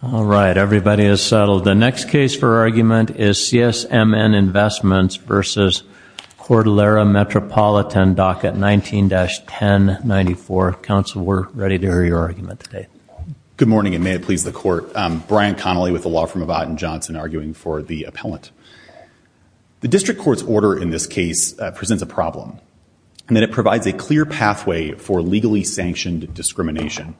All right, everybody is settled. The next case for argument is CSMN Investments v. Cordillera Metropolitan, docket 19-1094. Counsel, we're ready to hear your argument today. Good morning and may it please the court. Brian Connolly with the law firm of Ott & Johnson arguing for the appellant. The district court's order in this case presents a problem, and that it provides a clear pathway for legally sanctioned discrimination.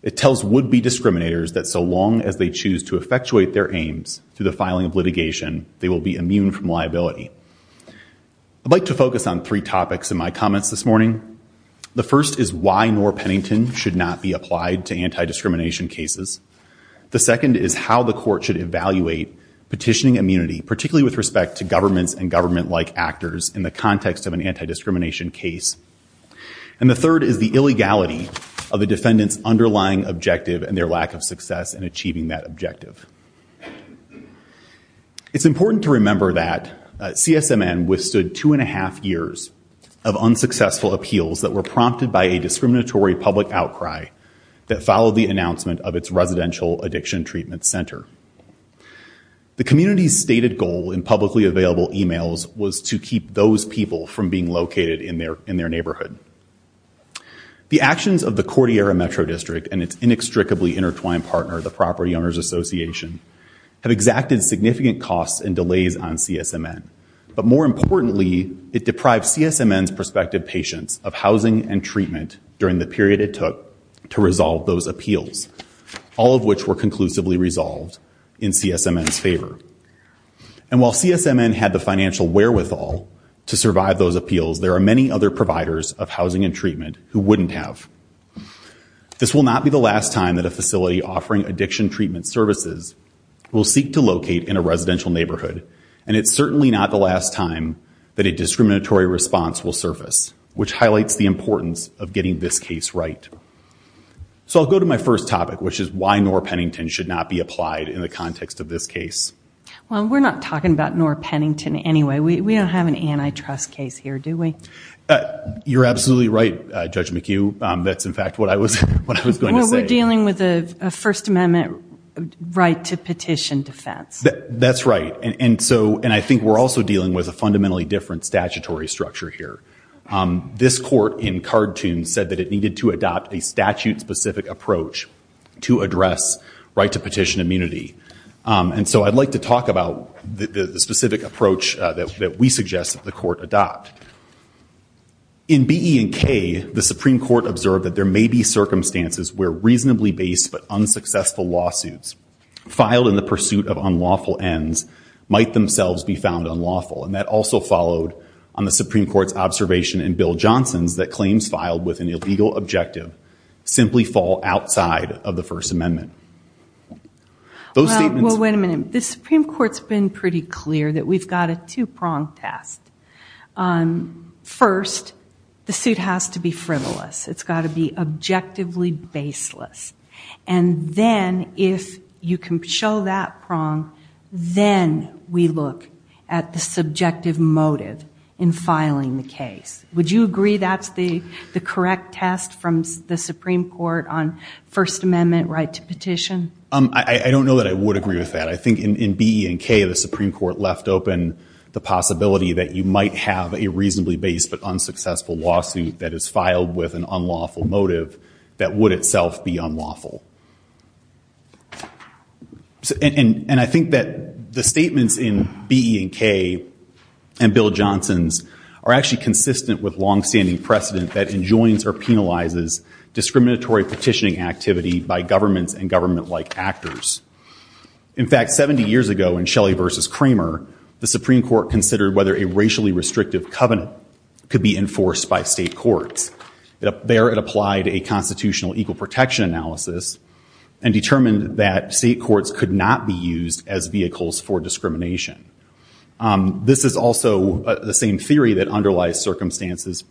It tells would-be discriminators that so long as they choose to effectuate their aims through the filing of litigation, they will be immune from liability. I'd like to focus on three topics in my comments this morning. The first is why Norr Pennington should not be applied to anti-discrimination cases. The second is how the court should evaluate petitioning immunity, particularly with respect to governments and government-like actors in the context of an anti-discrimination case. And the third is the illegality of the defendant's underlying objective and their lack of success in achieving that objective. It's important to remember that CSMN withstood two and a half years of unsuccessful appeals that were prompted by a discriminatory public outcry that followed the announcement of its residential addiction treatment center. The community's stated goal in publicly available emails was to keep those people from being located in their neighborhood. The actions of the Cordillera Metro District and its inextricably intertwined partner, the Property Owners Association, have exacted significant costs and delays on CSMN. But more importantly, it deprived CSMN's prospective patients of housing and treatment during the period it took to resolve those appeals, all of which were conclusively resolved in CSMN's favor. And while CSMN had the financial wherewithal to survive those appeals, there are many other providers of housing and treatment who wouldn't have. This will not be the last time that a facility offering addiction treatment services will seek to locate in a residential neighborhood, and it's certainly not the last time that a discriminatory response will surface, which highlights the importance of getting this case right. So I'll go to my first topic, which is why Norr Pennington should not be applied in the context of this case. Well, we're not talking about Norr Pennington anyway. We don't have an antitrust case here, do we? You're absolutely right, Judge McHugh. That's, in fact, what I was going to say. We're dealing with a First Amendment right to petition defense. That's right, and so, and I think we're also dealing with a fundamentally different statutory structure here. This court, in cartoon, said that it needed to adopt a statute-specific approach to address right-to-petition immunity, and so I'd like to talk about the specific approach that we suggest that the court adopt. In B, E, and K, the Supreme Court observed that there may be circumstances where reasonably based but unsuccessful lawsuits filed in the pursuit of unlawful ends might themselves be found unlawful, and that also followed on the Supreme Court's observation in Bill Johnson's that claims filed with an illegal objective simply fall outside of the First Amendment. Those statements... Well, wait a minute. The Supreme Court's been pretty clear that we've got a two-prong test. First, the suit has to be frivolous. It's got to be objectively baseless, and then, if you can show that prong, then we look at the subjective motive in filing the case. Would you agree that's the Second Amendment right to petition? I don't know that I would agree with that. I think in B, E, and K, the Supreme Court left open the possibility that you might have a reasonably based but unsuccessful lawsuit that is filed with an unlawful motive that would itself be unlawful, and I think that the statements in B, E, and K and Bill Johnson's are actually consistent with long-standing precedent that enjoins or governments and government-like actors. In fact, 70 years ago in Shelley v. Kramer, the Supreme Court considered whether a racially restrictive covenant could be enforced by state courts. There, it applied a constitutional equal protection analysis and determined that state courts could not be used as vehicles for discrimination. This is also the same theory that underlies circumstances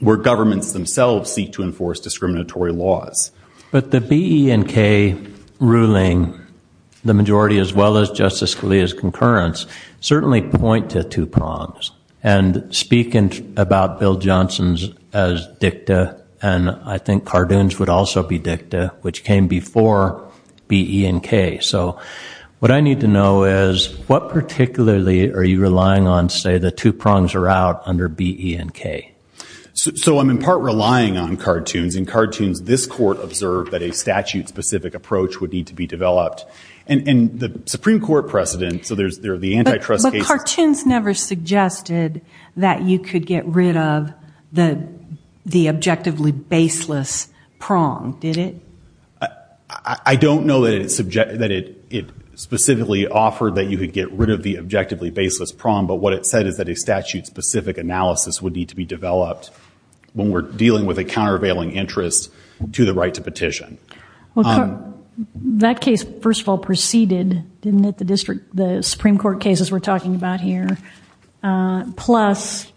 where governments themselves seek to enforce discriminatory laws. But the B, E, and K ruling, the majority as well as Justice Scalia's concurrence, certainly point to two prongs, and speak about Bill Johnson's as dicta, and I think Cardoon's would also be dicta, which came before B, E, and K. So what I need to know is, what particularly are you relying on, say, the two prongs are out under B, E, and K? So I'm in part relying on Cardoon's. In Cardoon's, this court observed that a statute-specific approach would need to be developed, and the Supreme Court precedent, so there's the antitrust case. But Cardoon's never suggested that you could get rid of the objectively baseless prong, did it? I don't know that it specifically offered that you could get rid of the objectively baseless prong, but what it said is that a statute-specific analysis would need to be developed when we're dealing with a countervailing interest to the right to petition. Well, that case first of all preceded, didn't it, the Supreme Court cases we're talking about here. Plus,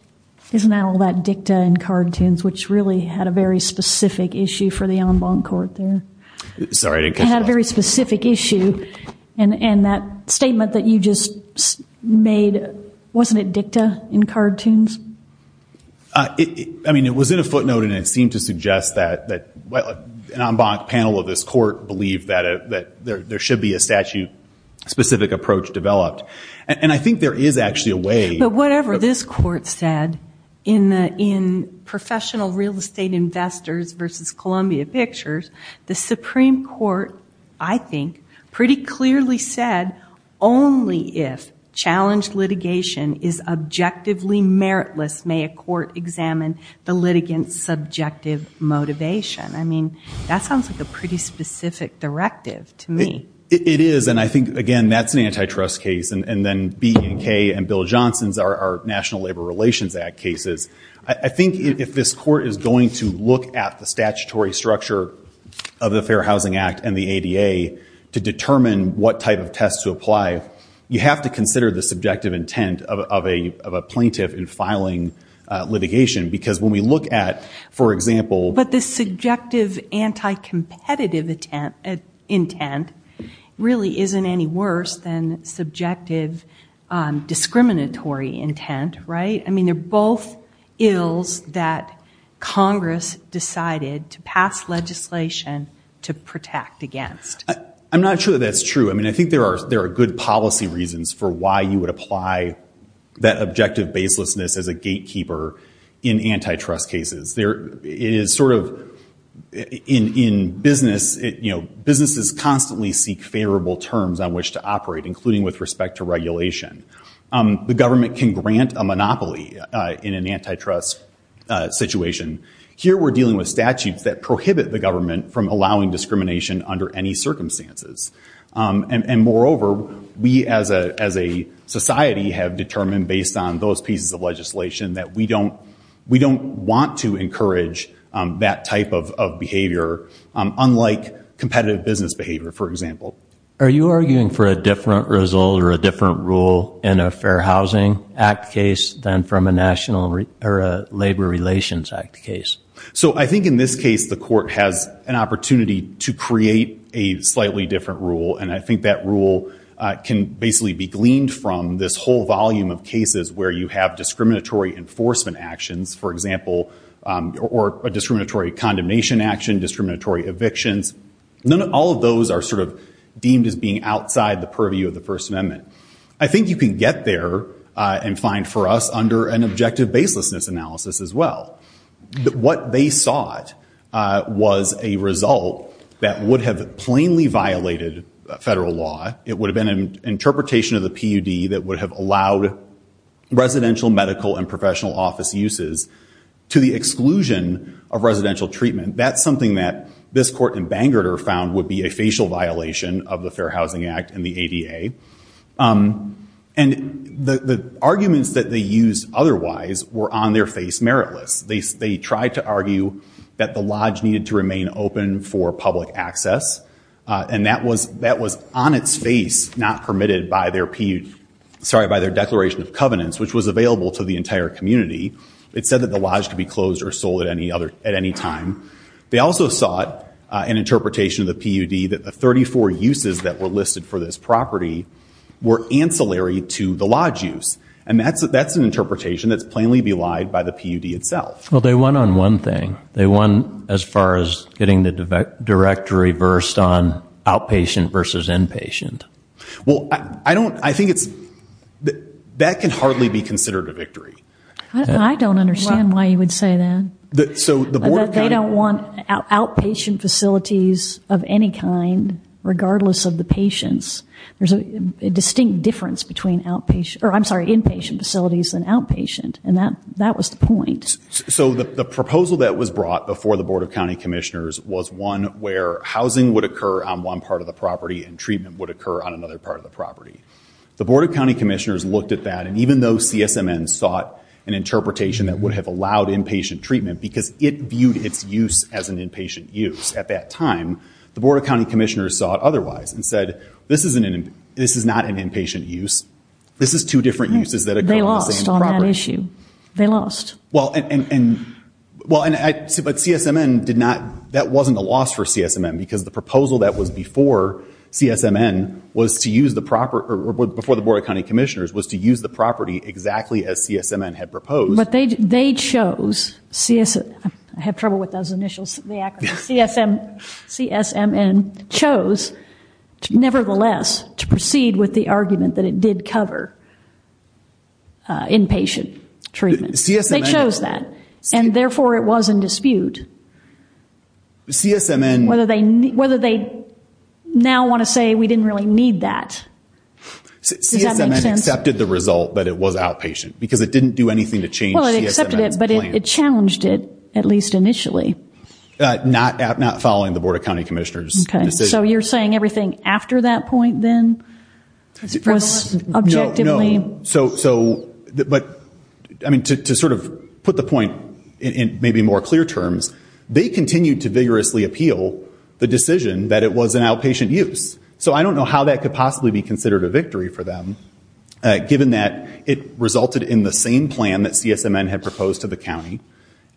isn't that all that dicta in Cardoon's, which really had a very specific issue for the en banc court there? Sorry, I didn't catch that. It had a very dicta in Cardoon's? I mean, it was in a footnote, and it seemed to suggest that an en banc panel of this court believed that there should be a statute-specific approach developed. And I think there is actually a way. But whatever this court said in professional real estate investors versus Columbia Pictures, the Supreme Court, I think, pretty clearly said only if challenged litigation is objectively meritless may a court examine the litigant's subjective motivation. I mean, that sounds like a pretty specific directive to me. It is. And I think, again, that's an antitrust case. And then B&K and Bill Johnson's are National Labor Relations Act cases. I think if this court is going to look at the statutory structure of the Fair Housing Act and the ADA to determine what type of test to apply, you have to consider the subjective intent of a plaintiff in filing litigation. Because when we look at, for example... But the subjective anti-competitive intent really isn't any worse than subjective discriminatory intent, right? I mean, they're both ills that Congress decided to pass legislation to protect against. I'm not sure that that's true. I mean, I think there are good policy reasons for why you would apply that objective baselessness as a gatekeeper in antitrust cases. It is sort of... In business, businesses constantly seek favorable terms on which to operate, including with respect to regulation. The government can grant a monopoly in an antitrust situation. Here we're dealing with statutes that prohibit the government from allowing discrimination under any circumstances. And moreover, we as a society have determined based on those pieces of legislation that we don't want to encourage that type of behavior, unlike competitive business behavior, for example. Are you arguing for a different result or a different rule in a Fair Housing Act case than from a National Labor Relations Act case? So I think in this case, the court has an opportunity to create a slightly different rule. And I think that rule can basically be gleaned from this whole volume of cases where you have discriminatory enforcement actions, for example, or a discriminatory condemnation action, discriminatory evictions. None of all of those are sort of deemed as being outside the purview of the First Amendment. I think you can get there and find for us under an objective baselessness analysis as well. What they sought was a result that would have plainly violated federal law. It would have been an interpretation of the PUD that would have allowed residential, medical, and professional office uses to the exclusion of residential treatment. That's something that this court in Bangor found would be a facial violation of the Fair Housing Act and the ADA. And the arguments that they used otherwise were on their face meritless. They tried to argue that the lodge needed to remain open for public access. And that was on its face not permitted by their declaration of covenants, which was available to the entire community. It said that the lodge could be closed or sold at any time. They also sought an interpretation of the PUD that the 34 uses that were listed for this property were ancillary to the lodge use. And that's an interpretation that's plainly belied by the PUD itself. Well, they won on one thing. They won as far as getting the directory versed on outpatient versus inpatient. Well, I don't, I think it's, that can hardly be considered a victory. I don't understand why you would say that. That they don't want outpatient facilities of any kind, regardless of the patients. There's a distinct difference between outpatient, or I'm sorry, inpatient facilities and outpatient. And that was the point. So the proposal that was brought before the Board of County Commissioners was one where housing would occur on one part of the property and treatment would occur on another part of the property. The Board of County Commissioners looked at that. And even though CSMN sought an interpretation that would have allowed inpatient treatment, because it viewed its use as an inpatient use at that time, the Board of County Commissioners saw it otherwise and said, this is not an inpatient use. This is two different uses that occur on the same property. They lost on that issue. They lost. Well, and, well, but CSMN did not, that wasn't a loss for CSMN because the proposal that was before CSMN was to use the property, or before the Board of County Commissioners was to use the property exactly as CSMN had proposed. But they chose, I have trouble with those initials, the acronym, CSMN chose nevertheless to proceed with the argument that it did cover inpatient treatment. They chose that. And therefore, it was in dispute, whether they now want to say we didn't really need that. Does that make sense? CSMN accepted the result that it was outpatient because it didn't do anything to change CSMN's plan. Well, it accepted it, but it challenged it, at least initially. Not following the Board of County Commissioners' decision. Okay. So you're saying everything after that point then was objectively... No, no. So, but, I mean, to sort of put the point in maybe more clear terms, they continued to vigorously appeal the decision that it was an outpatient use. So I don't know how that could possibly be considered a victory for them, given that it resulted in the same plan that CSMN had proposed to the county,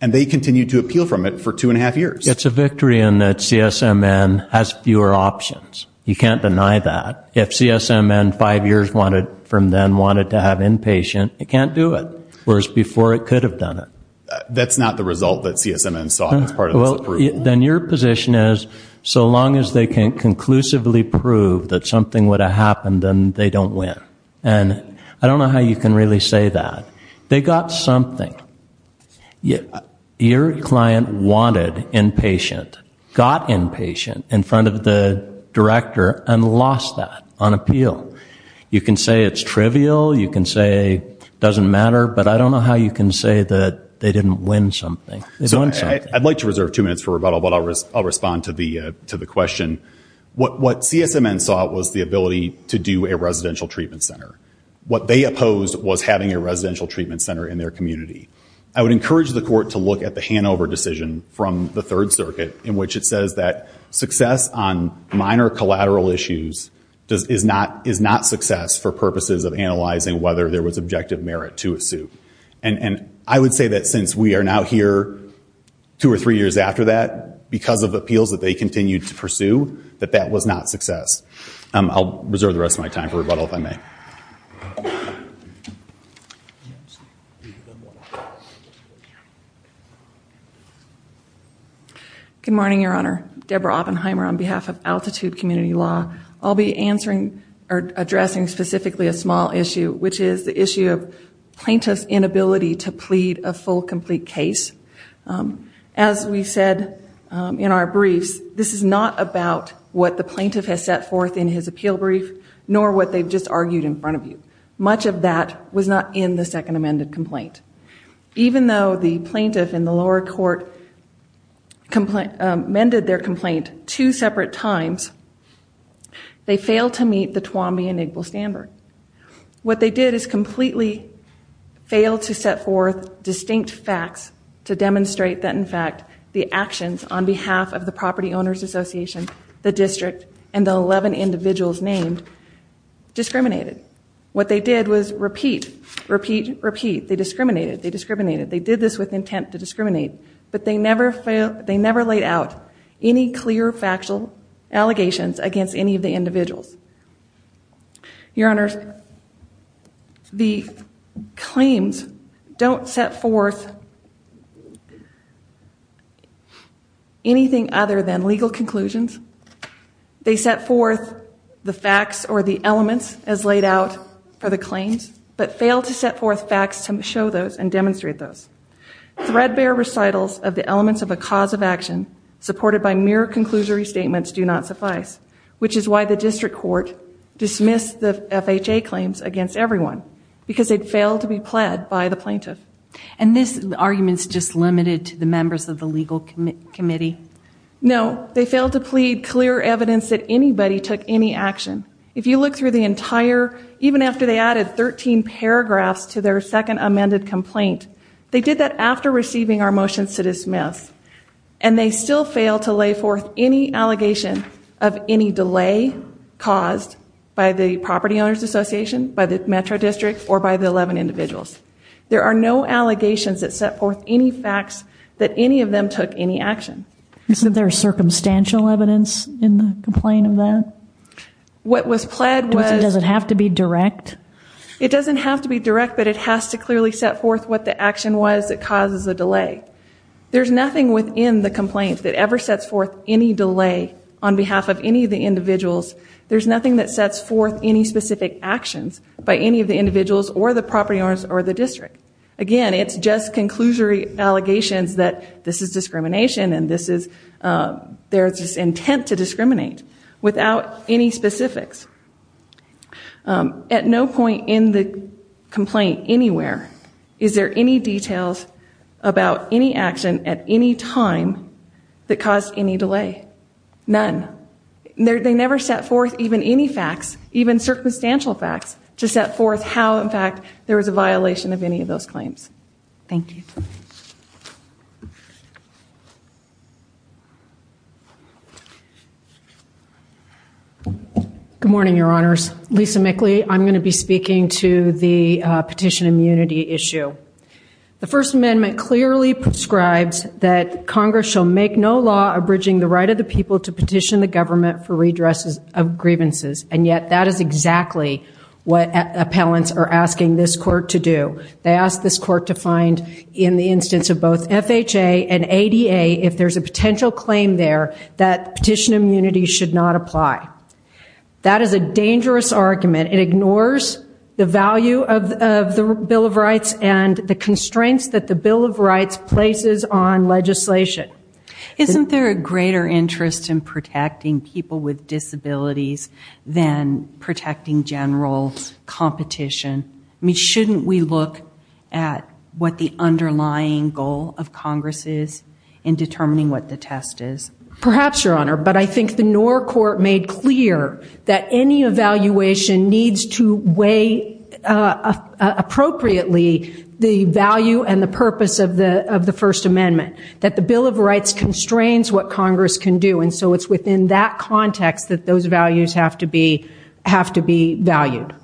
and they continued to appeal from it for two and a half years. It's a victory in that CSMN has fewer options. You can't deny that. If CSMN five years from then wanted to have inpatient, it can't do it. Whereas before it could have done it. That's not the result that CSMN saw as part of this approval. Then your position is, so long as they can conclusively prove that something would have happened, then they don't win. And I don't know how you can really say that. They got something. Your client wanted inpatient, got inpatient in front of the director, and lost that on appeal. You can say it's trivial. You can say it doesn't matter. But I don't know how you can say that they didn't win something. I'd like to reserve two minutes for rebuttal, but I'll respond to the question. What CSMN saw was the ability to do a residential treatment center. What they opposed was having a residential treatment center in their community. I would encourage the court to look at the Hanover decision from the Third Circuit, in which it says that success on minor collateral issues is not success for purposes of analyzing whether there was objective merit to a suit. And I would say that since we are now here two or three years after that, because of appeals that they continued to pursue, that that was not success. I'll reserve the rest of my time for rebuttal, if I may. Good morning, Your Honor. Deborah Oppenheimer on behalf of Altitude Community Law. I'll be addressing specifically a small issue, which is the issue of plaintiff's inability to plead a full, complete case. As we said in our briefs, this is not about what the plaintiff has set forth in his appeal brief, nor what they've just argued in front of you. Much of that was not in the second amended complaint. Even though the plaintiff in the lower court amended their complaint two separate times, they failed to meet the Tuambi and set forth distinct facts to demonstrate that, in fact, the actions on behalf of the Property Owners Association, the district, and the 11 individuals named discriminated. What they did was repeat, repeat, repeat. They discriminated. They discriminated. They did this with intent to discriminate. But they never laid out any clear, factual allegations against any of the individuals. Your Honors, the claims don't set forth anything other than legal conclusions. They set forth the facts or the elements as laid out for the claims, but failed to set forth facts to show those and demonstrate those. Threadbare recitals of the elements of a cause of action, supported by mere conclusory statements, do not suffice, which is why the district court dismissed the FHA claims against everyone, because they'd failed to be pled by the plaintiff. And this argument's just limited to the members of the legal committee? No. They failed to plead clear evidence that anybody took any action. If you look through the entire, even after they added 13 paragraphs to their second amended complaint, they did that after receiving our motions to dismiss. And they still failed to lay forth any allegation of any delay caused by the Property Owners Association, by the Metro District, or by the 11 individuals. There are no allegations that set forth any facts that any of them took any action. Isn't there circumstantial evidence in the complaint of that? What was pled was... Does it have to be direct? It doesn't have to be direct, but it has to clearly set forth what the action was that causes the delay. There's nothing within the delay, on behalf of any of the individuals, there's nothing that sets forth any specific actions by any of the individuals, or the property owners, or the district. Again, it's just conclusory allegations that this is discrimination, and this is their intent to discriminate, without any specifics. At no point in the complaint, anywhere, is there any details about any action, at any time, that caused any delay. None. They never set forth even any facts, even circumstantial facts, to set forth how, in fact, there was a violation of any of those claims. Thank you. Good morning, Your Honors. Lisa Mickley. I'm going to be speaking to the petition immunity issue. The First Amendment clearly prescribes that Congress shall make no law abridging the right of the people to petition the government for redress of grievances, and yet that is exactly what appellants are asking this court to do. They ask this court to find, in the instance of both FHA and ADA, if there's a potential claim there, that petition immunity should not apply. That is a dangerous argument. It ignores the value of the Bill of Rights and the constraints that the Bill of Rights places on legislation. Isn't there a greater interest in protecting people with disabilities than protecting general competition? I mean, shouldn't we look at what the underlying goal of Congress is in determining what the test is? Perhaps, Your Honor, but I think the Knorr Court made clear that any evaluation needs to weigh appropriately the value and the purpose of the First Amendment, that the Bill of Rights constrains what Congress can do, and so it's within that context that those values have to be valued.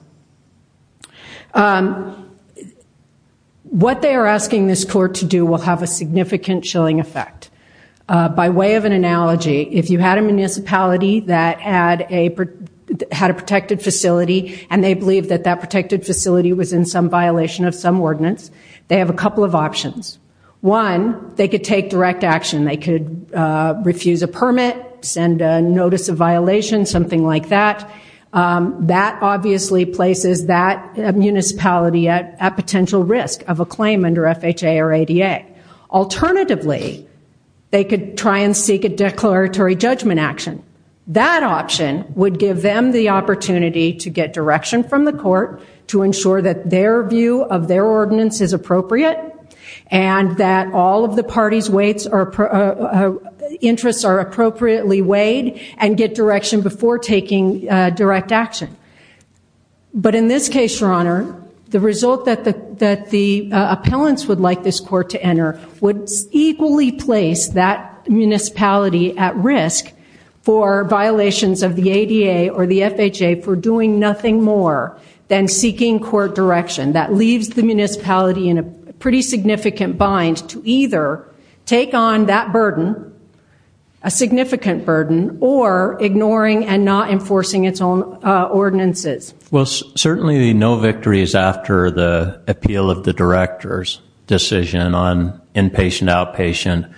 What they are asking this court to do will have a significant chilling effect. By way of an analogy, if you had a municipality that had a protected facility and they believe that that protected facility was in some violation of some ordinance, they have a couple of options. One, they could take direct action. They could refuse a permit, send a notice of violation, something like that. That obviously places that municipality at potential risk of a claim under FHA or ADA. Alternatively, they could try and seek a declaratory judgment action. That option would give them the opportunity to get direction from the court to ensure that their view of their ordinance is appropriate and that all of the party's interests are appropriately weighed and get direction before taking direct action. But in this case, Your Honor, the result that the appellants would like this court to enter would equally place that municipality at risk for violations of the ADA or the FHA for doing nothing more than seeking court direction. That leaves the municipality in a pretty significant bind to either take on that burden, a significant burden, or ignoring and not enforcing its own ordinances. Well, certainly the no victory is after the appeal of the director's decision on inpatient, outpatient.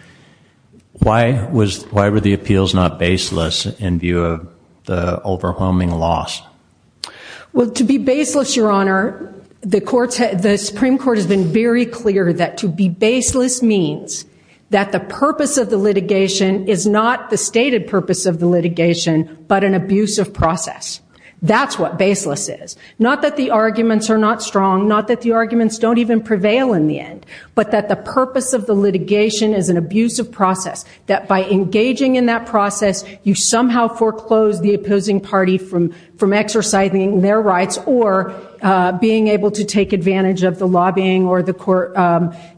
Why were the appeals not baseless in view of the overwhelming loss? Well, to be baseless, Your Honor, the Supreme Court has been very clear that to be baseless means that the purpose of the litigation is not the stated purpose of the litigation but an abusive process. That's what baseless is. Not that the arguments are not strong. Not that the arguments don't even prevail in the end. But that the purpose of the litigation is an abusive process. That by engaging in that process, you somehow foreclose the opposing party from exercising their rights or being able to take advantage of the lobbying or the court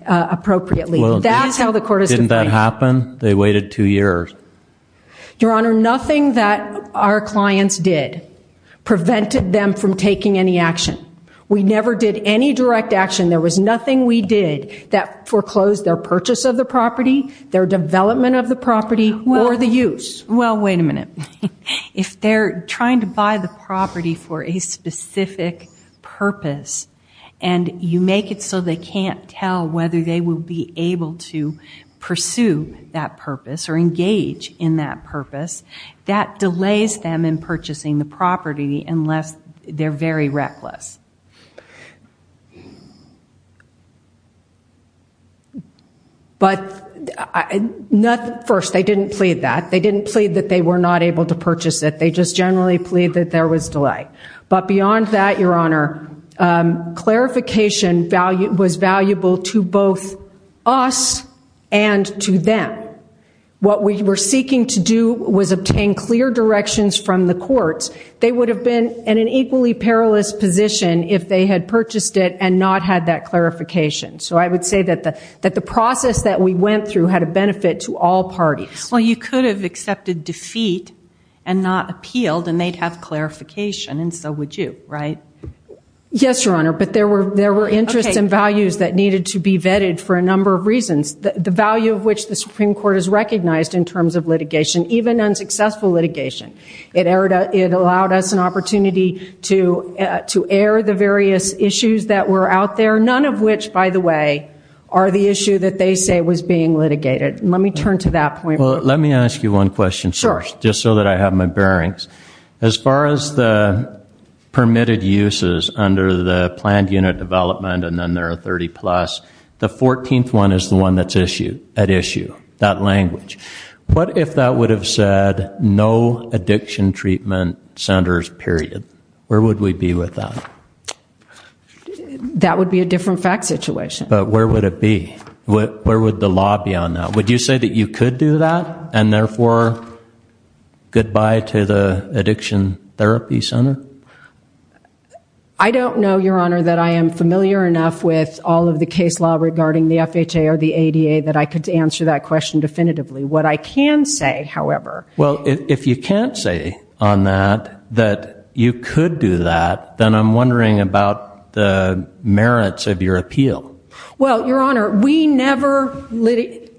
appropriately. That's how the court is defined. Well, didn't that happen? They waited two years. Your Honor, nothing that our clients did prevented them from taking any action. We never did any direct action. There was nothing we did that foreclosed their purchase of the property, their development of the property, or the use. Well, wait a minute. If they're trying to buy the property for a specific purpose and you make it so they can't tell whether they will be able to pursue that purpose or engage in that purpose, that delays them in purchasing the property unless they're very reckless. But first, they didn't plead that. They didn't plead that they were not able to purchase it. They just generally plead that there was delay. But beyond that, Your Honor, clarification was valuable to both us and to them. What we were seeking to do was obtain clear directions from the courts. They would have been in an equally perilous position if they had purchased it and not had that clarification. So I would say that the process that we went through had a benefit to all parties. Well, you could have accepted defeat and not appealed and they'd have clarification and so would you, right? Yes, Your Honor, but there were interests and values that needed to be vetted for a number of reasons. The value of which the Supreme Court has recognized in terms of litigation, even unsuccessful litigation. It allowed us an opportunity to air the various issues that were out there, none of which, by the way, are the issue that they say was being litigated. Let me turn to that point. Let me ask you one question first just so that I have my bearings. As far as the permitted uses under the planned unit development and then there are 30 plus, the 14th one is the one that's at issue, that language. What if that would have said no addiction treatment centers period? Where would we be with that? That would be a different fact situation. But where would it be? Where would the law be on that? Would you say that you could do that and therefore goodbye to the addiction therapy center? I don't know, Your Honor, that I am familiar enough with all of the case law regarding the FHA or the ADA that I could answer that question definitively. What I can say, however... Well, if you can't say on that that you could do that, then I'm wondering about the merits of your appeal. Well, Your Honor, we never... The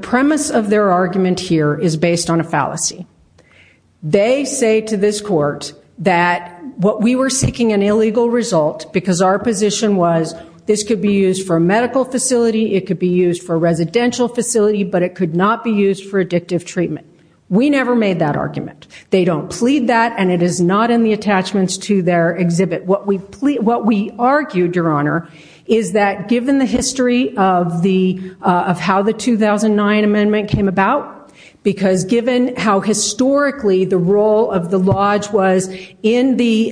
premise of their argument here is based on a fallacy. They say to this court that what we were seeking an illegal result because our position was this could be used for a medical facility, it could be used for a residential facility, but it could not be used for addictive treatment. We never made that argument. They don't plead that and it is not in the attachments to their exhibit. What we argued, Your Honor, is that given the history of how the 2009 amendment came about, because given how historically the role of the lodge was in the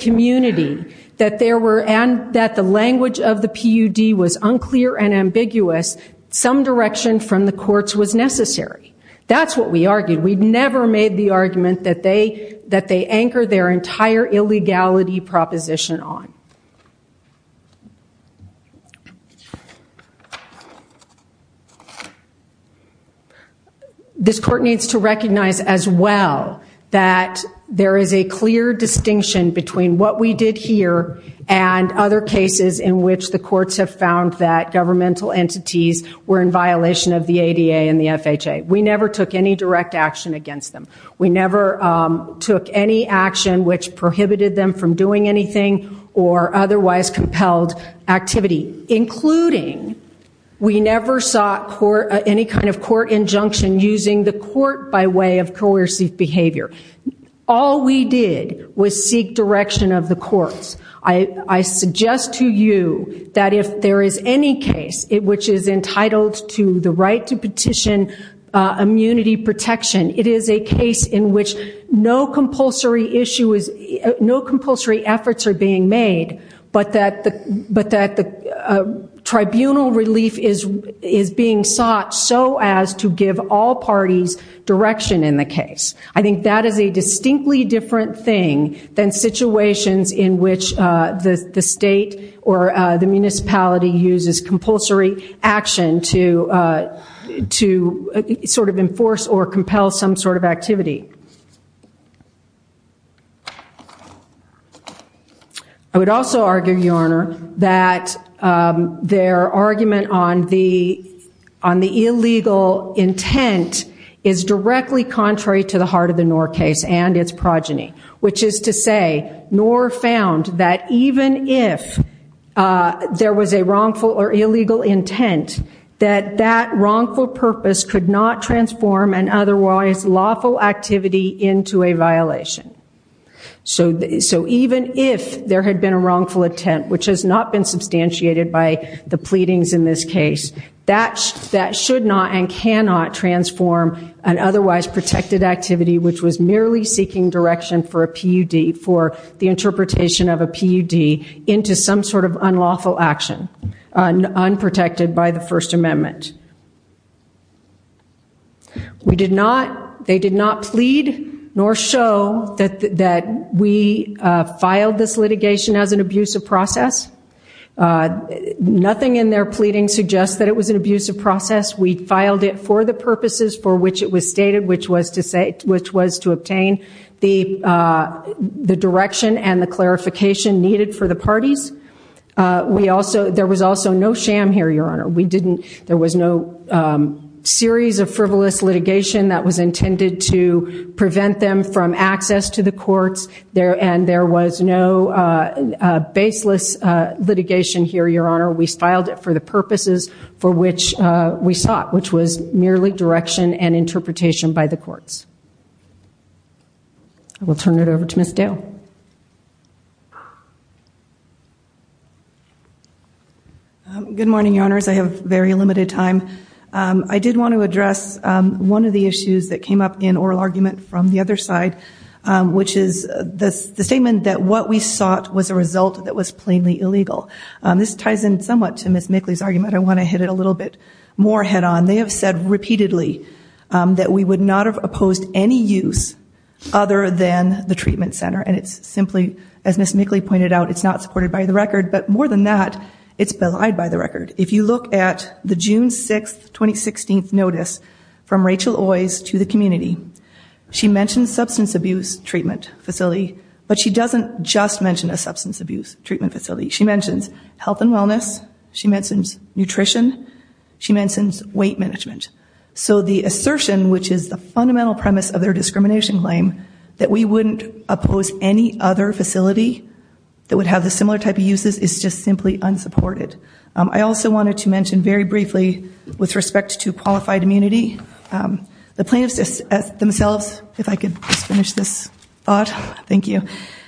community, that the language of the PUD was unclear and ambiguous, some direction from the courts was necessary. That's what we argued. We never made the argument that they anchor their entire illegality proposition on. This court needs to recognize as well that there is a clear distinction between what we did here and other cases in which the courts have found that governmental entities were in violation of the ADA and the FHA. We never took any direct action against them. We never took any action which prohibited them from doing anything or otherwise compelled activity, including we never sought any kind of court injunction using the court by way of coercive behavior. All we did was seek direction of the courts. I suggest to you that if there is any case which is entitled to the right to petition immunity protection, it is a case in which no compulsory efforts are being made, but that the tribunal relief is being sought so as to give all parties direction in the case. I think that is a distinctly different thing than situations in which the state or the municipality uses compulsory action to sort of enforce or compel some sort of activity. I would also argue, Your Honor, that their argument on the illegal intent is directly contrary to the heart of the Knorr case and its progeny, which is to say, Knorr found that even if there was a wrongful or illegal intent, that that wrongful purpose could not transform an otherwise lawful activity into a violation. So even if there had been a wrongful intent, which has not been substantiated by the pleadings in this case, that should not and cannot transform an otherwise protected activity, which was merely seeking direction for a PUD, for the interpretation of a PUD, into some sort of unlawful action, unprotected by the First Amendment. They did not plead nor show that we filed this litigation as an abusive process. Nothing in their pleading suggests that it was an abusive process. We filed it for the purposes for which it was to obtain the direction and the clarification needed for the parties. There was also no sham here, Your Honor. There was no series of frivolous litigation that was intended to prevent them from access to the courts, and there was no baseless litigation here, Your Honor. We filed it for the purposes for which we sought, which was merely direction and interpretation by the courts. I will turn it over to Ms. Dale. Good morning, Your Honors. I have very limited time. I did want to address one of the issues that came up in oral argument from the other side, which is the statement that what we sought was a result that was plainly illegal. This ties in somewhat to Ms. Mickley's argument. I want to hit it a little bit more head on. They have said repeatedly that we would not have opposed any use other than the treatment center. It's simply, as Ms. Mickley pointed out, it's not supported by the record. But more than that, it's belied by the record. If you look at the June 6, 2016 notice from Rachel Oiz to the community, she mentions substance abuse treatment facility, but she doesn't just mention a substance abuse treatment facility. She mentions health and wellness. She mentions nutrition. She mentions weight management. So the assertion, which is the fundamental premise of their discrimination claim that we wouldn't oppose any other facility that would have the similar type of uses is just simply unsupported. I also wanted to mention very briefly with respect to qualified immunity, the plaintiffs themselves, if I could just finish this thought. Thank you.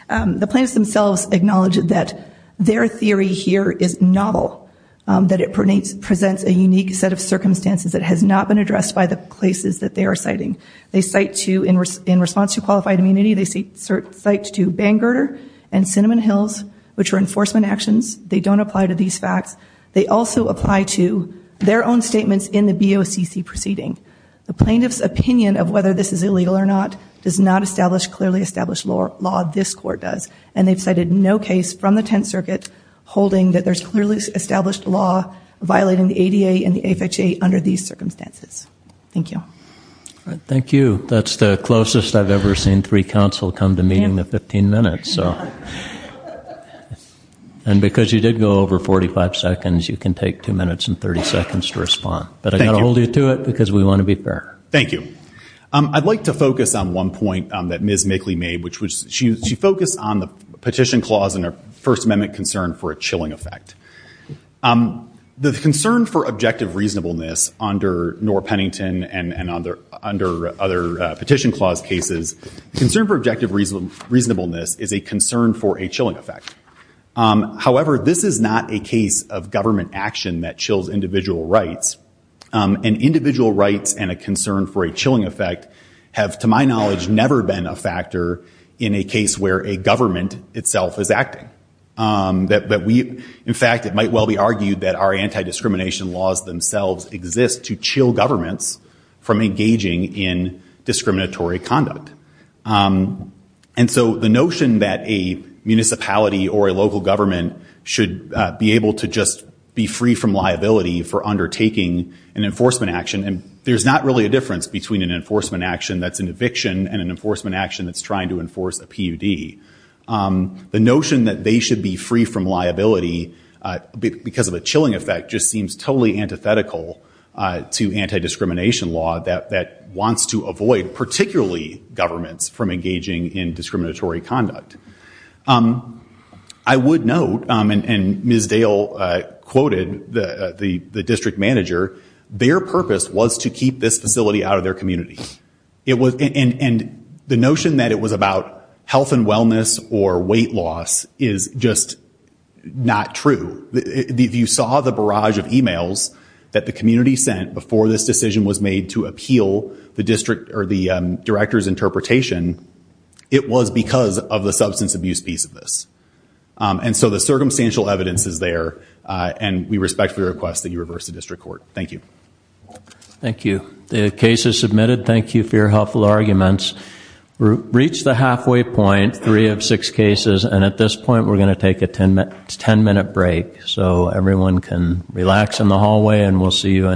The plaintiffs themselves acknowledge that their theory here is novel, that it presents a unique set of circumstances that has not been addressed by the places that they are citing. They cite to, in response to qualified immunity, they cite to Bangor and Cinnamon Hills, which were enforcement actions. They don't apply to these facts. They also apply to their own statements in the BOCC proceeding. The plaintiff's opinion of whether this is what this court does. And they've cited no case from the Tenth Circuit holding that there's clearly established law violating the ADA and the AFAJ under these circumstances. Thank you. Thank you. That's the closest I've ever seen three counsel come to meeting in 15 minutes. And because you did go over 45 seconds, you can take two minutes and 30 seconds to respond. But I've got to hold you to it because we want to be fair. Thank you. I'd like to focus on one point that Ms. Mickley made, which was she focused on the petition clause and her First Amendment concern for a chilling effect. The concern for objective reasonableness under Noor-Pennington and under other petition clause cases, the concern for objective reasonableness is a concern for a chilling effect. However, this is not a case of government action that chills individual rights. And individual rights and concern for a chilling effect have, to my knowledge, never been a factor in a case where a government itself is acting. In fact, it might well be argued that our anti-discrimination laws themselves exist to chill governments from engaging in discriminatory conduct. And so the notion that a municipality or a local government should be able to just be free from liability is probably a difference between an enforcement action that's an eviction and an enforcement action that's trying to enforce a PUD. The notion that they should be free from liability because of a chilling effect just seems totally antithetical to anti-discrimination law that wants to avoid particularly governments from engaging in discriminatory conduct. I would note, and Ms. Dale quoted the district manager, their purpose was to keep this facility out of their community. And the notion that it was about health and wellness or weight loss is just not true. If you saw the barrage of emails that the community sent before this decision was made to appeal the district or the director's interpretation, it was because of the substance abuse piece of this. And so the circumstantial evidence is there, and we respectfully request that you reverse the district court. Thank you. Thank you. The case is submitted. Thank you for your helpful arguments. We've reached the halfway point, three of six cases, and at this point we're going to take a ten-minute break so everyone can relax in the hallway and we'll see you in...